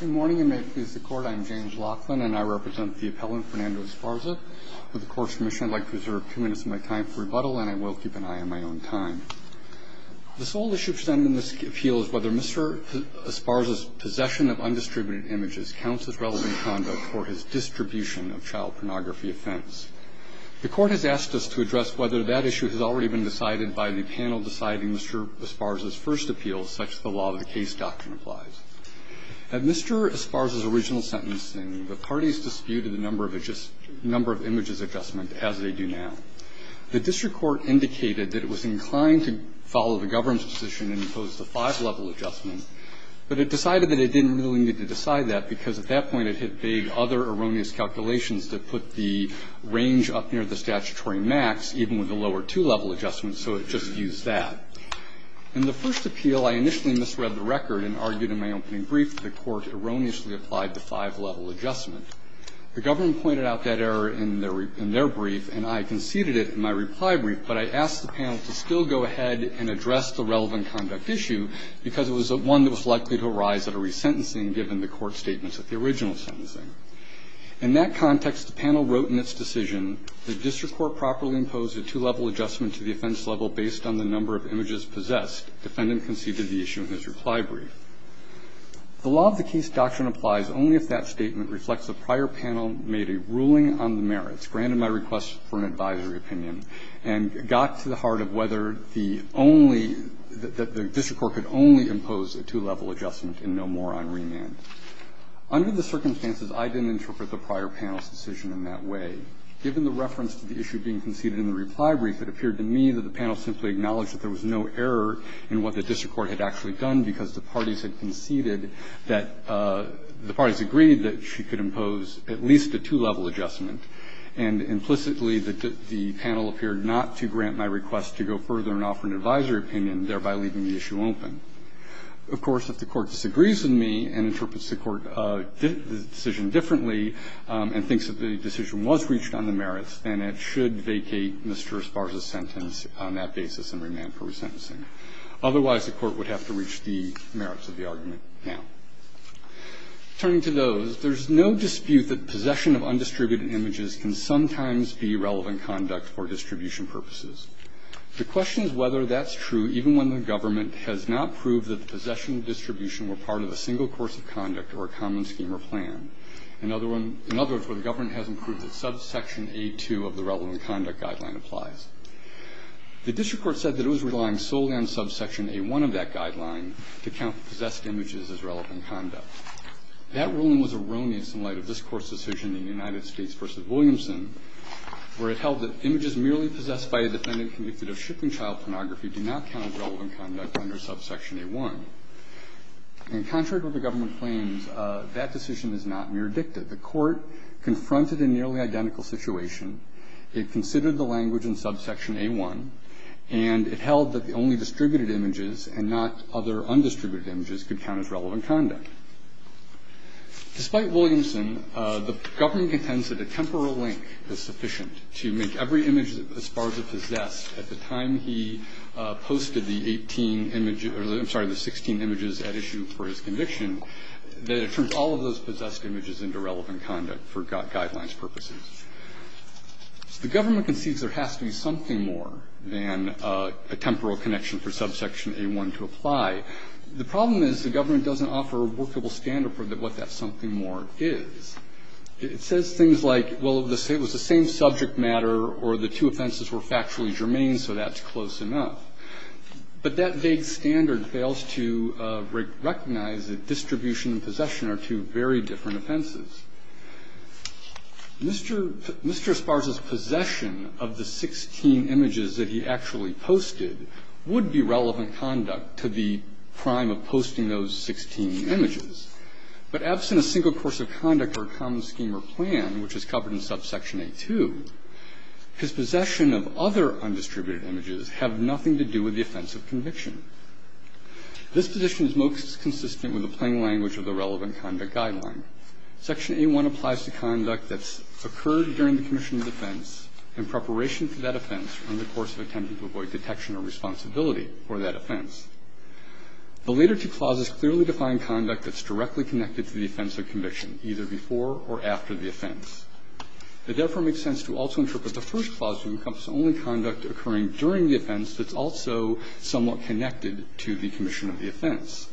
Good morning, and may it please the Court, I am James Laughlin, and I represent the appellant Fernando Esparza. With the Court's permission, I'd like to reserve two minutes of my time for rebuttal, and I will keep an eye on my own time. The sole issue presented in this appeal is whether Mr. Esparza's possession of undistributed images counts as relevant conduct for his distribution of child pornography offense. The Court has asked us to address whether that issue has already been decided by the panel deciding Mr. Esparza's first appeal, such as the law of the case doctrine applies. At Mr. Esparza's original sentencing, the parties disputed the number of images adjustment, as they do now. The district court indicated that it was inclined to follow the government's position and impose the five-level adjustment, but it decided that it didn't really need to decide that, because at that point it had made other erroneous calculations that put the range up near the statutory max, even with the lower two-level adjustment, so it just used that. In the first appeal, I initially misread the record and argued in my opening brief that the Court erroneously applied the five-level adjustment. The government pointed out that error in their brief, and I conceded it in my reply brief, but I asked the panel to still go ahead and address the relevant conduct issue, because it was one that was likely to arise at a resentencing, given the Court's statements at the original sentencing. In that context, the panel wrote in its decision, the district court properly imposed a two-level adjustment to the offense level based on the number of images possessed. The defendant conceded the issue in his reply brief. The law of the case doctrine applies only if that statement reflects a prior panel made a ruling on the merits, granted my request for an advisory opinion, and got to the heart of whether the only the district court could only impose a two-level adjustment and no more on remand. Under the circumstances, I didn't interpret the prior panel's decision in that way. Given the reference to the issue being conceded in the reply brief, it appeared to me that the panel simply acknowledged that there was no error in what the district court had actually done, because the parties had conceded that the parties agreed that she could impose at least a two-level adjustment. And implicitly, the panel appeared not to grant my request to go further and offer an advisory opinion, thereby leaving the issue open. Of course, if the Court disagrees with me and interprets the Court's decision differently and thinks that the decision was reached on the merits, then it should vacate Mr. Esparza's sentence on that basis and remand for resentencing. Otherwise, the Court would have to reach the merits of the argument now. Turning to those, there's no dispute that possession of undistributed images can sometimes be relevant conduct for distribution purposes. The question is whether that's true, even when the government has not proved that in other words, where the government hasn't proved that subsection A2 of the relevant conduct guideline applies. The district court said that it was relying solely on subsection A1 of that guideline to count possessed images as relevant conduct. That ruling was erroneous in light of this Court's decision in the United States v. Williamson, where it held that images merely possessed by a defendant convicted of shipping child pornography do not count as relevant conduct under subsection A1. And contrary to what the government claims, that decision is not mere dicta. The Court confronted a nearly identical situation. It considered the language in subsection A1, and it held that the only distributed images and not other undistributed images could count as relevant conduct. Despite Williamson, the government contends that a temporal link is sufficient to make every image that Esparza possessed at the time he posted the 18 images or, I'm sorry, the 16 images at issue for his conviction, that it turns all of those possessed images into relevant conduct for guidelines purposes. The government concedes there has to be something more than a temporal connection for subsection A1 to apply. The problem is the government doesn't offer a workable standard for what that something more is. It says things like, well, it was the same subject matter, or the two offenses were factually germane, so that's close enough. But that vague standard fails to recognize that distribution and possession are two very different offenses. Mr. Esparza's possession of the 16 images that he actually posted would be relevant conduct to the crime of posting those 16 images. But absent a single course of conduct or a common scheme or plan, which is covered in subsection A2, his possession of other undistributed images have nothing to do with the offense of conviction. This position is most consistent with the plain language of the relevant conduct guideline. Section A1 applies to conduct that's occurred during the commission of defense in preparation for that offense on the course of attempt to avoid detection or responsibility for that offense. The later two clauses clearly define conduct that's directly connected to the offense of conviction, either before or after the offense. It therefore makes sense to also interpret the first clause to encompass only conduct occurring during the offense that's also somewhat connected to the commission of the offense.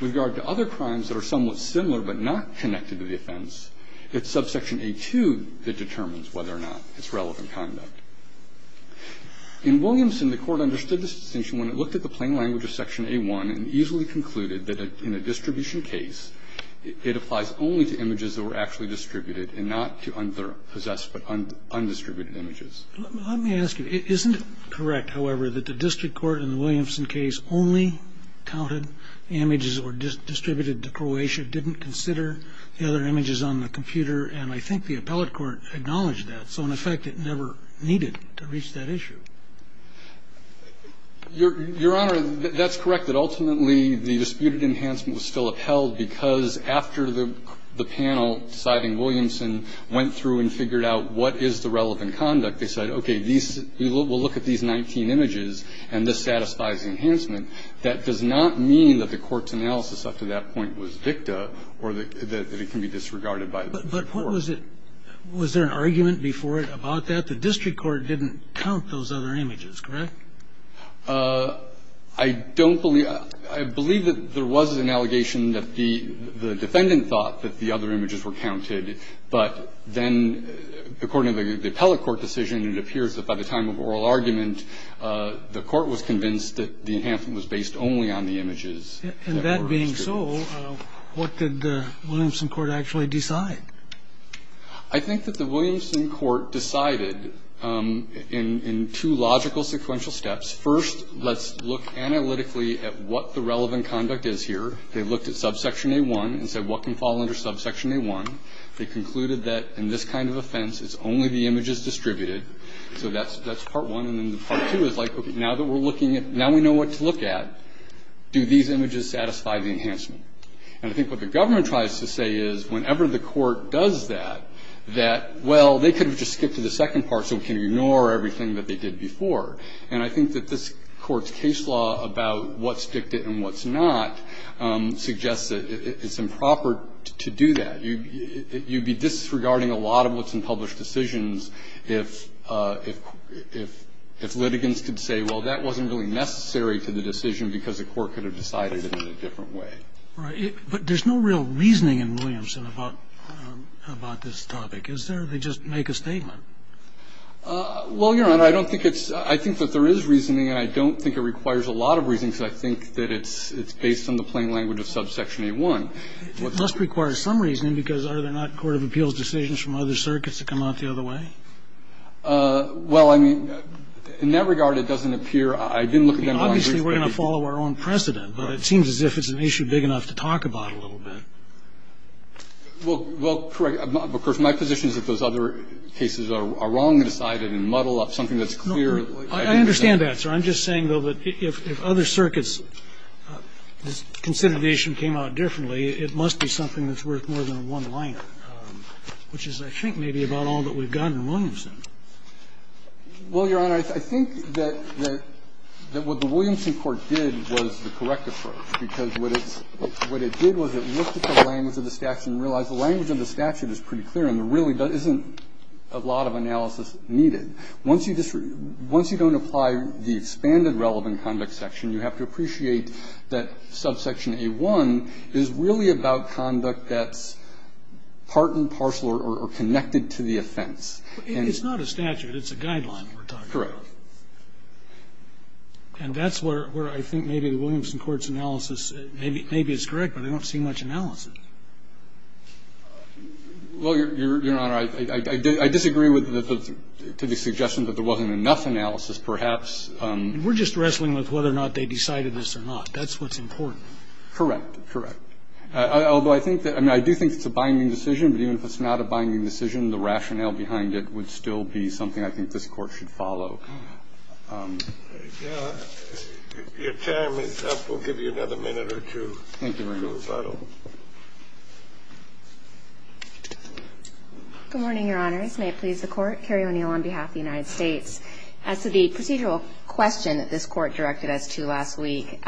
With regard to other crimes that are somewhat similar but not connected to the offense, it's subsection A2 that determines whether or not it's relevant conduct. In Williamson, the Court understood this distinction when it looked at the plain language of section A1 and easily concluded that in a distribution case, it applies only to images that were actually distributed and not to unpossessed but undistributed images. Let me ask you, isn't it correct, however, that the district court in the Williamson case only counted images that were distributed to Croatia, didn't consider the other images on the computer, and I think the appellate court acknowledged that, so in effect it never needed to reach that issue? Your Honor, that's correct, that ultimately the disputed enhancement was still upheld because after the panel deciding Williamson went through and figured out what is the relevant conduct, they said, okay, we'll look at these 19 images and this satisfies the enhancement. That does not mean that the Court's analysis up to that point was dicta or that it can be disregarded by the court. But what was it? Was there an argument before about that? The court's analysis was that the district court didn't count those other images, correct? I don't believe that. I believe that there was an allegation that the defendant thought that the other images were counted, but then, according to the appellate court decision, it appears that by the time of oral argument, the court was convinced that the enhancement was based only on the images that were distributed. And that being so, what did the Williamson court actually decide? I think that the Williamson court decided in two logical sequential steps. First, let's look analytically at what the relevant conduct is here. They looked at subsection A1 and said, what can fall under subsection A1? They concluded that in this kind of offense, it's only the images distributed. So that's part one. And then part two is like, okay, now that we're looking at – now we know what to look at, do these images satisfy the enhancement? And I think what the government tries to say is, whenever the court does that, that, well, they could have just skipped to the second part so we can ignore everything that they did before. And I think that this court's case law about what's dictated and what's not suggests that it's improper to do that. You'd be disregarding a lot of what's in published decisions if litigants could say, well, that wasn't really necessary to the decision because the court could have decided it in a different way. And it would be inappropriate to say, well, this is a case that requires some reason to be made in a different way. Robertson. But there's no real reasoning in Williamson about this topic. Is there? They just make a statement. Well, Your Honor, I don't think it's – I think that there is reasoning. And I don't think it requires a lot of reasoning, because I think that it's – it's based on the plain language of subsection A-1. It must require some reasoning, because are there not court of appeals decisions from other circuits that come out the other way? Well, I mean, in that regard, it doesn't appear – I didn't look at them. Obviously, we're going to follow our own precedent, but it seems as if it's an issue big enough to talk about a little bit. Well, correct. Of course, my position is that those other cases are wrongly decided and muddle up something that's clear. I understand that, sir. I'm just saying, though, that if other circuits' consideration came out differently, it must be something that's worth more than one line, which is, I think, maybe about all that we've got in Williamson. Well, Your Honor, I think that what the Williamson court did was the correct approach, because what it did was it looked at the language of the statute and realized the language of the statute is pretty clear and there really isn't a lot of analysis needed. Once you don't apply the expanded relevant conduct section, you have to appreciate that subsection A-1 is really about conduct that's part and parcel or connected to the offense. It's not a statute. It's a guideline we're talking about. Correct. And that's where I think maybe the Williamson court's analysis, maybe it's correct, but I don't see much analysis. Well, Your Honor, I disagree with the suggestion that there wasn't enough analysis, perhaps. We're just wrestling with whether or not they decided this or not. That's what's important. Correct. Correct. Although I think that – I mean, I do think it's a binding decision, but even if it's not a binding decision, the rationale behind it would still be something I think this Court should follow. We'll give you another minute or two. Thank you, Your Honor. Thank you. Good morning, Your Honors. May it please the Court. Carrie O'Neill on behalf of the United States. As to the procedural question that this Court directed us to last week,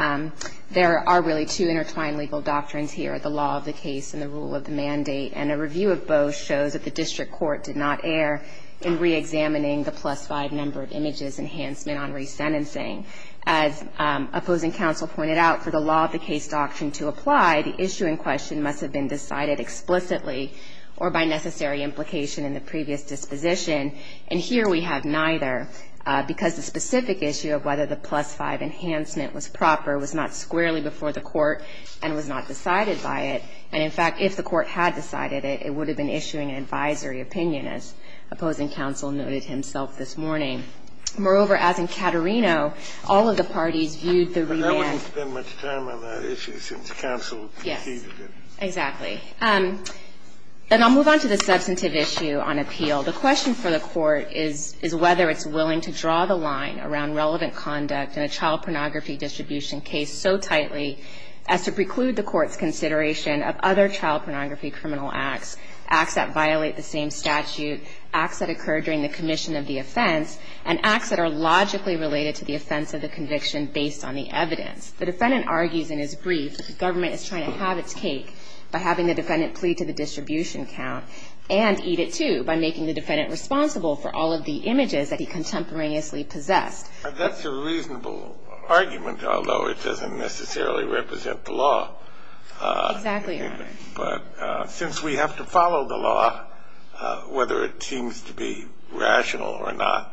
there are really two intertwined legal doctrines here, the law of the case and the rule of the mandate. And a review of both shows that the district court did not err in reexamining the plus-five number of images enhancement on resentencing. As opposing counsel pointed out, for the law of the case doctrine to apply, the issue in question must have been decided explicitly or by necessary implication in the previous disposition. And here we have neither because the specific issue of whether the plus-five enhancement was proper was not squarely before the Court and was not decided by it. And, in fact, if the Court had decided it, it would have been issuing an advisory opinion, as opposing counsel noted himself this morning. Moreover, as in Cattarino, all of the parties viewed the revamp. But I wouldn't spend much time on that issue since counsel defeated it. Yes. Exactly. And I'll move on to the substantive issue on appeal. The question for the Court is whether it's willing to draw the line around relevant conduct in a child pornography distribution case so tightly as to preclude the Court's consideration of other child pornography criminal acts, acts that violate the same The defendant argues in his brief that the government is trying to have its cake by having the defendant plead to the distribution count and eat it, too, by making the defendant responsible for all of the images that he contemporaneously possessed. That's a reasonable argument, although it doesn't necessarily represent the law. Exactly right. But since we have to follow the law, whether it seems to be rational or not,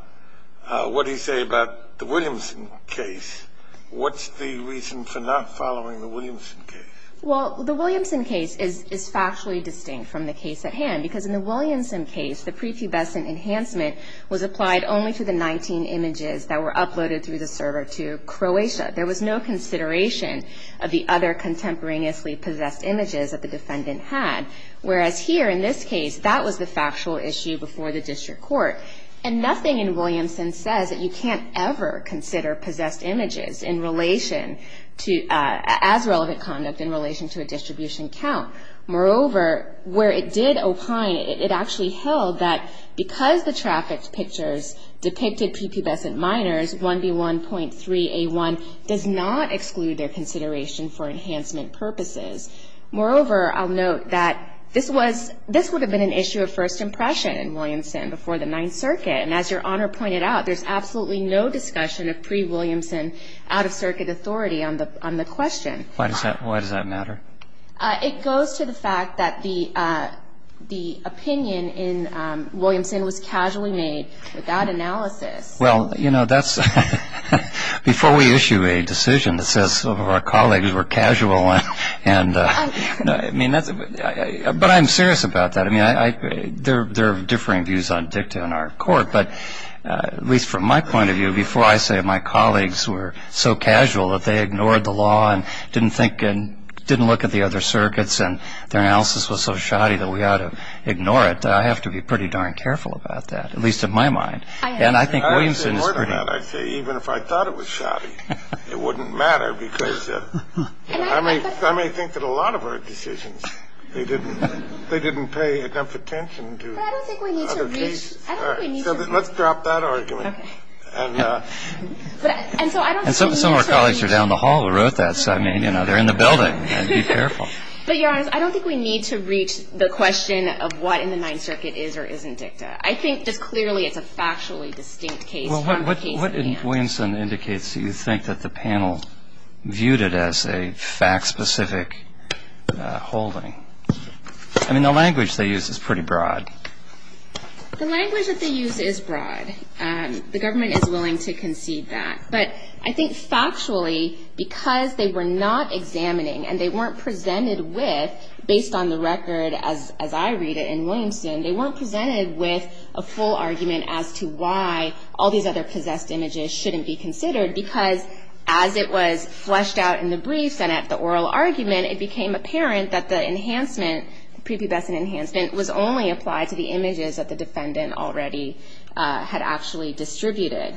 it's What do you say about the Williamson case? What's the reason for not following the Williamson case? Well, the Williamson case is factually distinct from the case at hand because in the Williamson case, the prepubescent enhancement was applied only to the 19 images that were uploaded through the server to Croatia. There was no consideration of the other contemporaneously possessed images that the defendant had, whereas here in this case, that was the factual issue before the district court, and nothing in Williamson says that you can't ever consider possessed images in relation to, as relevant conduct in relation to a distribution count. Moreover, where it did opine, it actually held that because the trafficked pictures depicted prepubescent minors, 1B1.3A1, does not exclude their consideration for enhancement purposes. Moreover, I'll note that this was, this would have been an issue of first impression in Williamson before the Ninth Circuit. And as Your Honor pointed out, there's absolutely no discussion of pre-Williamson out-of-circuit authority on the question. Why does that matter? It goes to the fact that the opinion in Williamson was casually made without analysis. Well, you know, that's, before we issue a decision that says some of our colleagues were casual and, I mean, that's, but I'm serious about that. I mean, I, there are differing views on dicta in our court, but at least from my point of view, before I say my colleagues were so casual that they ignored the law and didn't think and didn't look at the other circuits and their analysis was so shoddy that we ought to ignore it, I have to be pretty darn careful about that, at least in my mind. And I think Williamson is pretty. I would say even if I thought it was shoddy, it wouldn't matter because I may think that a lot of our decisions, they didn't, they didn't pay enough attention to other cases. But I don't think we need to reach. Let's drop that argument. And so I don't think we need to reach. And some of our colleagues are down the hall who wrote that, so I mean, you know, they're in the building. Be careful. But Your Honor, I don't think we need to reach the question of what in the Ninth Circuit is or isn't dicta. I think just clearly it's a factually distinct case from the case at hand. What in Williamson indicates that you think that the panel viewed it as a fact-specific holding? I mean, the language they use is pretty broad. The language that they use is broad. The government is willing to concede that. But I think factually, because they were not examining and they weren't presented with, based on the record as I read it in Williamson, they weren't presented with a view that their possessed images shouldn't be considered, because as it was fleshed out in the briefs and at the oral argument, it became apparent that the enhancement, prepubescent enhancement, was only applied to the images that the defendant already had actually distributed.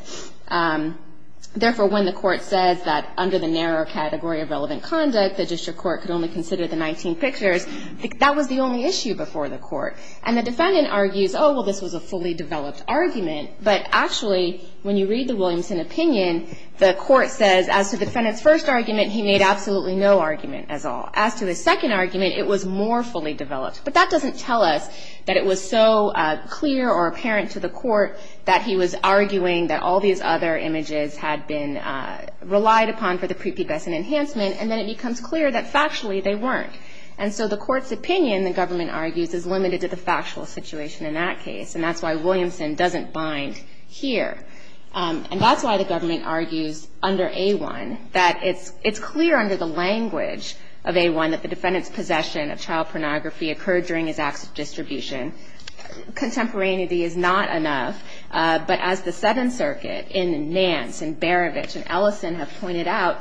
Therefore, when the court says that under the narrow category of relevant conduct, the district court could only consider the 19 pictures, that was the only issue before the court. And the defendant argues, oh, well, this was a fully developed argument. But actually, when you read the Williamson opinion, the court says, as to the defendant's first argument, he made absolutely no argument at all. As to his second argument, it was more fully developed. But that doesn't tell us that it was so clear or apparent to the court that he was arguing that all these other images had been relied upon for the prepubescent enhancement, and then it becomes clear that factually they weren't. And so the court's opinion, the government argues, is limited to the factual situation in that case. And that's why Williamson doesn't bind here. And that's why the government argues under A1 that it's clear under the language of A1 that the defendant's possession of child pornography occurred during his acts of distribution. Contemporaneity is not enough. But as the Seventh Circuit in Nance and Berovich and Ellison have pointed out,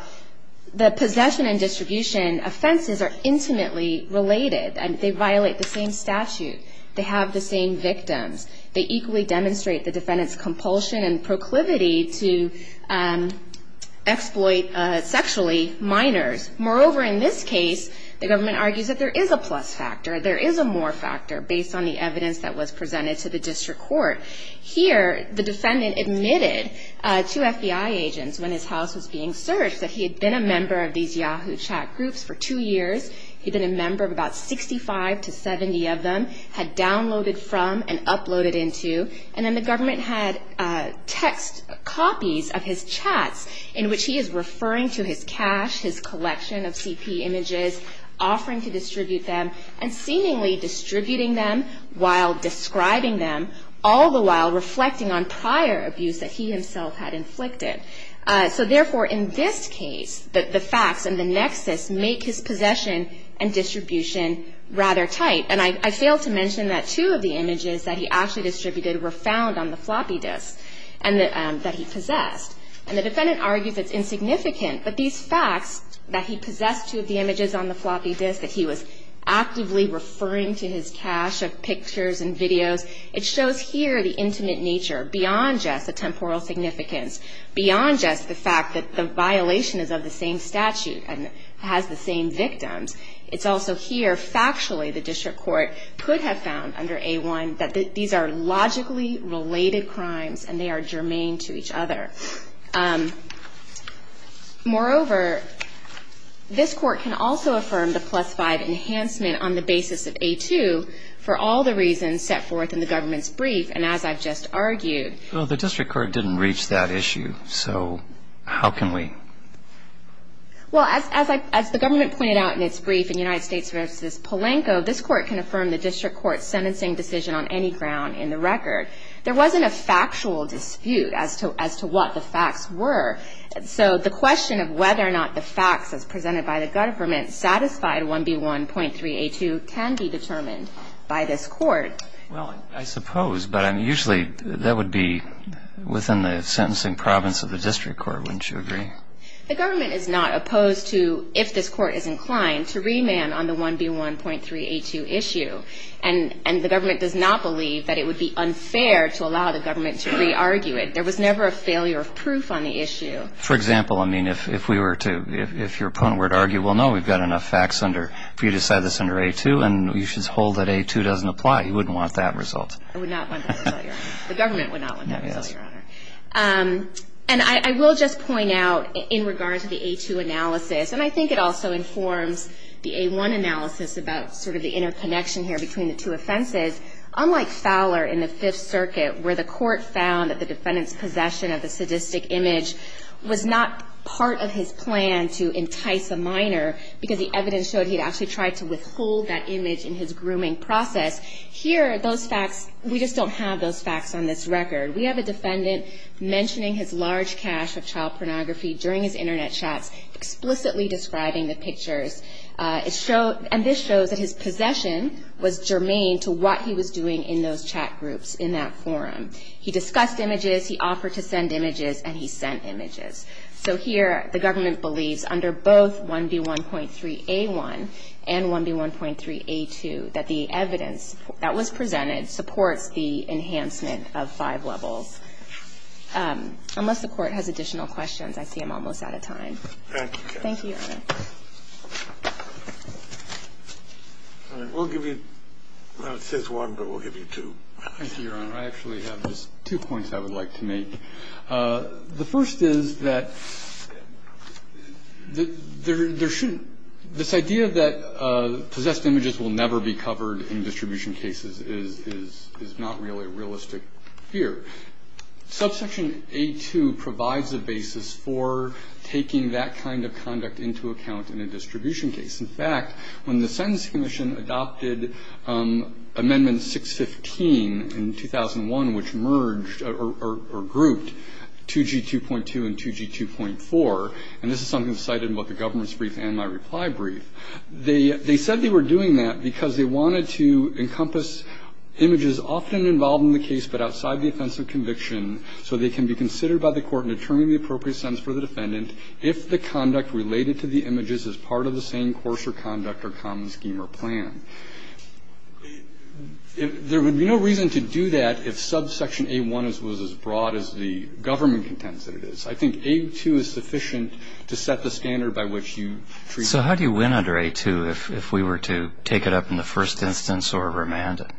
the possession and distribution offenses are intimately related. They violate the same statute. They have the same victims. They equally demonstrate the defendant's compulsion and proclivity to exploit sexually minors. Moreover, in this case, the government argues that there is a plus factor, there is a more factor, based on the evidence that was presented to the district court. Here, the defendant admitted to FBI agents when his house was being searched that he had been a member of these Yahoo chat groups for two years. He'd been a member of about 65 to 70 of them, had downloaded from and uploaded into. And then the government had text copies of his chats in which he is referring to his cash, his collection of CP images, offering to distribute them, and seemingly distributing them while describing them, all the while reflecting on prior abuse that he himself had inflicted. So, therefore, in this case, the facts and the nexus make his possession and distribution rather tight. And I failed to mention that two of the images that he actually distributed were found on the floppy disk that he possessed. And the defendant argues it's insignificant, but these facts, that he possessed two of the images on the floppy disk, that he was actively referring to his cash of pictures and videos, it shows here the intimate nature, beyond just the temporal significance, beyond just the fact that the violation is of the same statute and has the same victims, it's also here, factually, the district court could have found under A-1 that these are logically related crimes and they are germane to each other. Moreover, this court can also affirm the plus-five enhancement on the basis of A-2 for all the reasons set forth in the government's brief and as I've just argued. Well, the district court didn't reach that issue, so how can we? Well, as the government pointed out in its brief in United States v. Polanco, this court can affirm the district court's sentencing decision on any ground in the record. There wasn't a factual dispute as to what the facts were. So the question of whether or not the facts as presented by the government satisfied 1B1.3A2 can be determined by this court. Well, I suppose. But usually that would be within the sentencing province of the district court, wouldn't you agree? The government is not opposed to, if this court is inclined, to remand on the 1B1.3A2 issue. And the government does not believe that it would be unfair to allow the government to re-argue it. There was never a failure of proof on the issue. For example, I mean, if your opponent were to argue, well, no, we've got enough facts for you to decide this under A-2, and you should hold that A-2 doesn't apply, you wouldn't want that result. I would not want that result, Your Honor. The government would not want that result, Your Honor. And I will just point out, in regards to the A-2 analysis, and I think it also informs the A-1 analysis about sort of the interconnection here between the two offenses. Unlike Fowler in the Fifth Circuit, where the court found that the defendant's possession of the sadistic image was not part of his plan to entice a minor because the evidence showed he'd actually tried to withhold that image in his possession. Here, those facts, we just don't have those facts on this record. We have a defendant mentioning his large cache of child pornography during his Internet chats, explicitly describing the pictures. And this shows that his possession was germane to what he was doing in those chat groups in that forum. He discussed images, he offered to send images, and he sent images. So here, the government believes, under both 1B1.3A1 and 1B1.3A2, that the evidence that was presented supports the enhancement of five levels. Unless the Court has additional questions, I see I'm almost out of time. Thank you, Your Honor. All right. We'll give you ñ well, it says one, but we'll give you two. Thank you, Your Honor. I actually have just two points I would like to make. The first is that there shouldn't ñ this idea that possessed images will never be covered in distribution cases is not really realistic here. Subsection A2 provides a basis for taking that kind of conduct into account in a distribution case. In fact, when the Sentence Commission adopted Amendment 615 in 2001, which merged or grouped 2G2.2 and 2G2.4, and this is something cited in both the government's brief and my reply brief, they said they were doing that because they wanted to encompass images often involved in the case but outside the offense of conviction so they can be considered by the Court in determining the appropriate sentence for the defendant if the conduct related to the images is part of the same course or conduct or common scheme or plan. There would be no reason to do that if subsection A1 was as broad as the government contends that it is. I think A2 is sufficient to set the standard by which you treat it. What would have happened under A2 if we were to take it up in the first instance or remand it?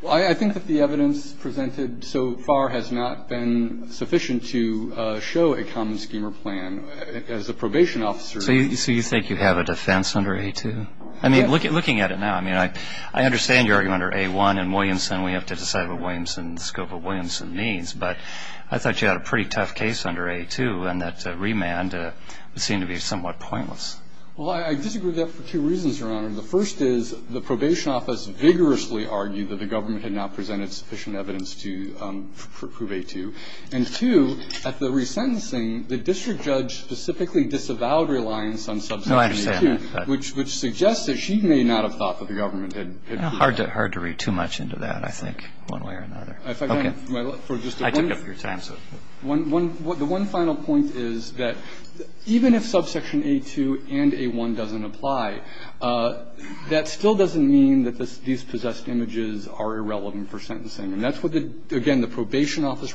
Well, I think that the evidence presented so far has not been sufficient to show a common scheme or plan. As a probation officer ñ So you think you have a defense under A2? Yeah. I mean, looking at it now, I mean, I understand your argument under A1 and Williamson. We have to decide what Williamson ñ the scope of Williamson means. But I thought you had a pretty tough case under A2 and that remand would seem to be somewhat pointless. Well, I disagree with that for two reasons, Your Honor. The first is the probation office vigorously argued that the government had not presented sufficient evidence to prove A2. And two, at the resentencing, the district judge specifically disavowed reliance on subsection A2. No, I understand that. Which suggests that she may not have thought that the government had ñ Hard to read too much into that, I think, one way or another. Okay. I took up your time. The one final point is that even if subsection A2 and A1 doesn't apply, that still doesn't mean that these possessed images are irrelevant for sentencing. And that's what, again, the probation office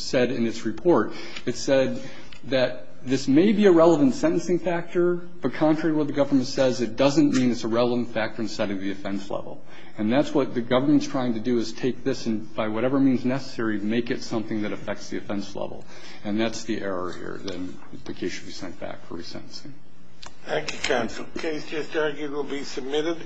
said in its report. It said that this may be a relevant sentencing factor, but contrary to what the government says, it doesn't mean it's a relevant factor in setting the offense level. And that's what the government's trying to do is take this and by whatever means necessary, make it something that affects the offense level. And that's the error here, that the case should be sent back for resentencing. Thank you, counsel. Case just argued will be submitted.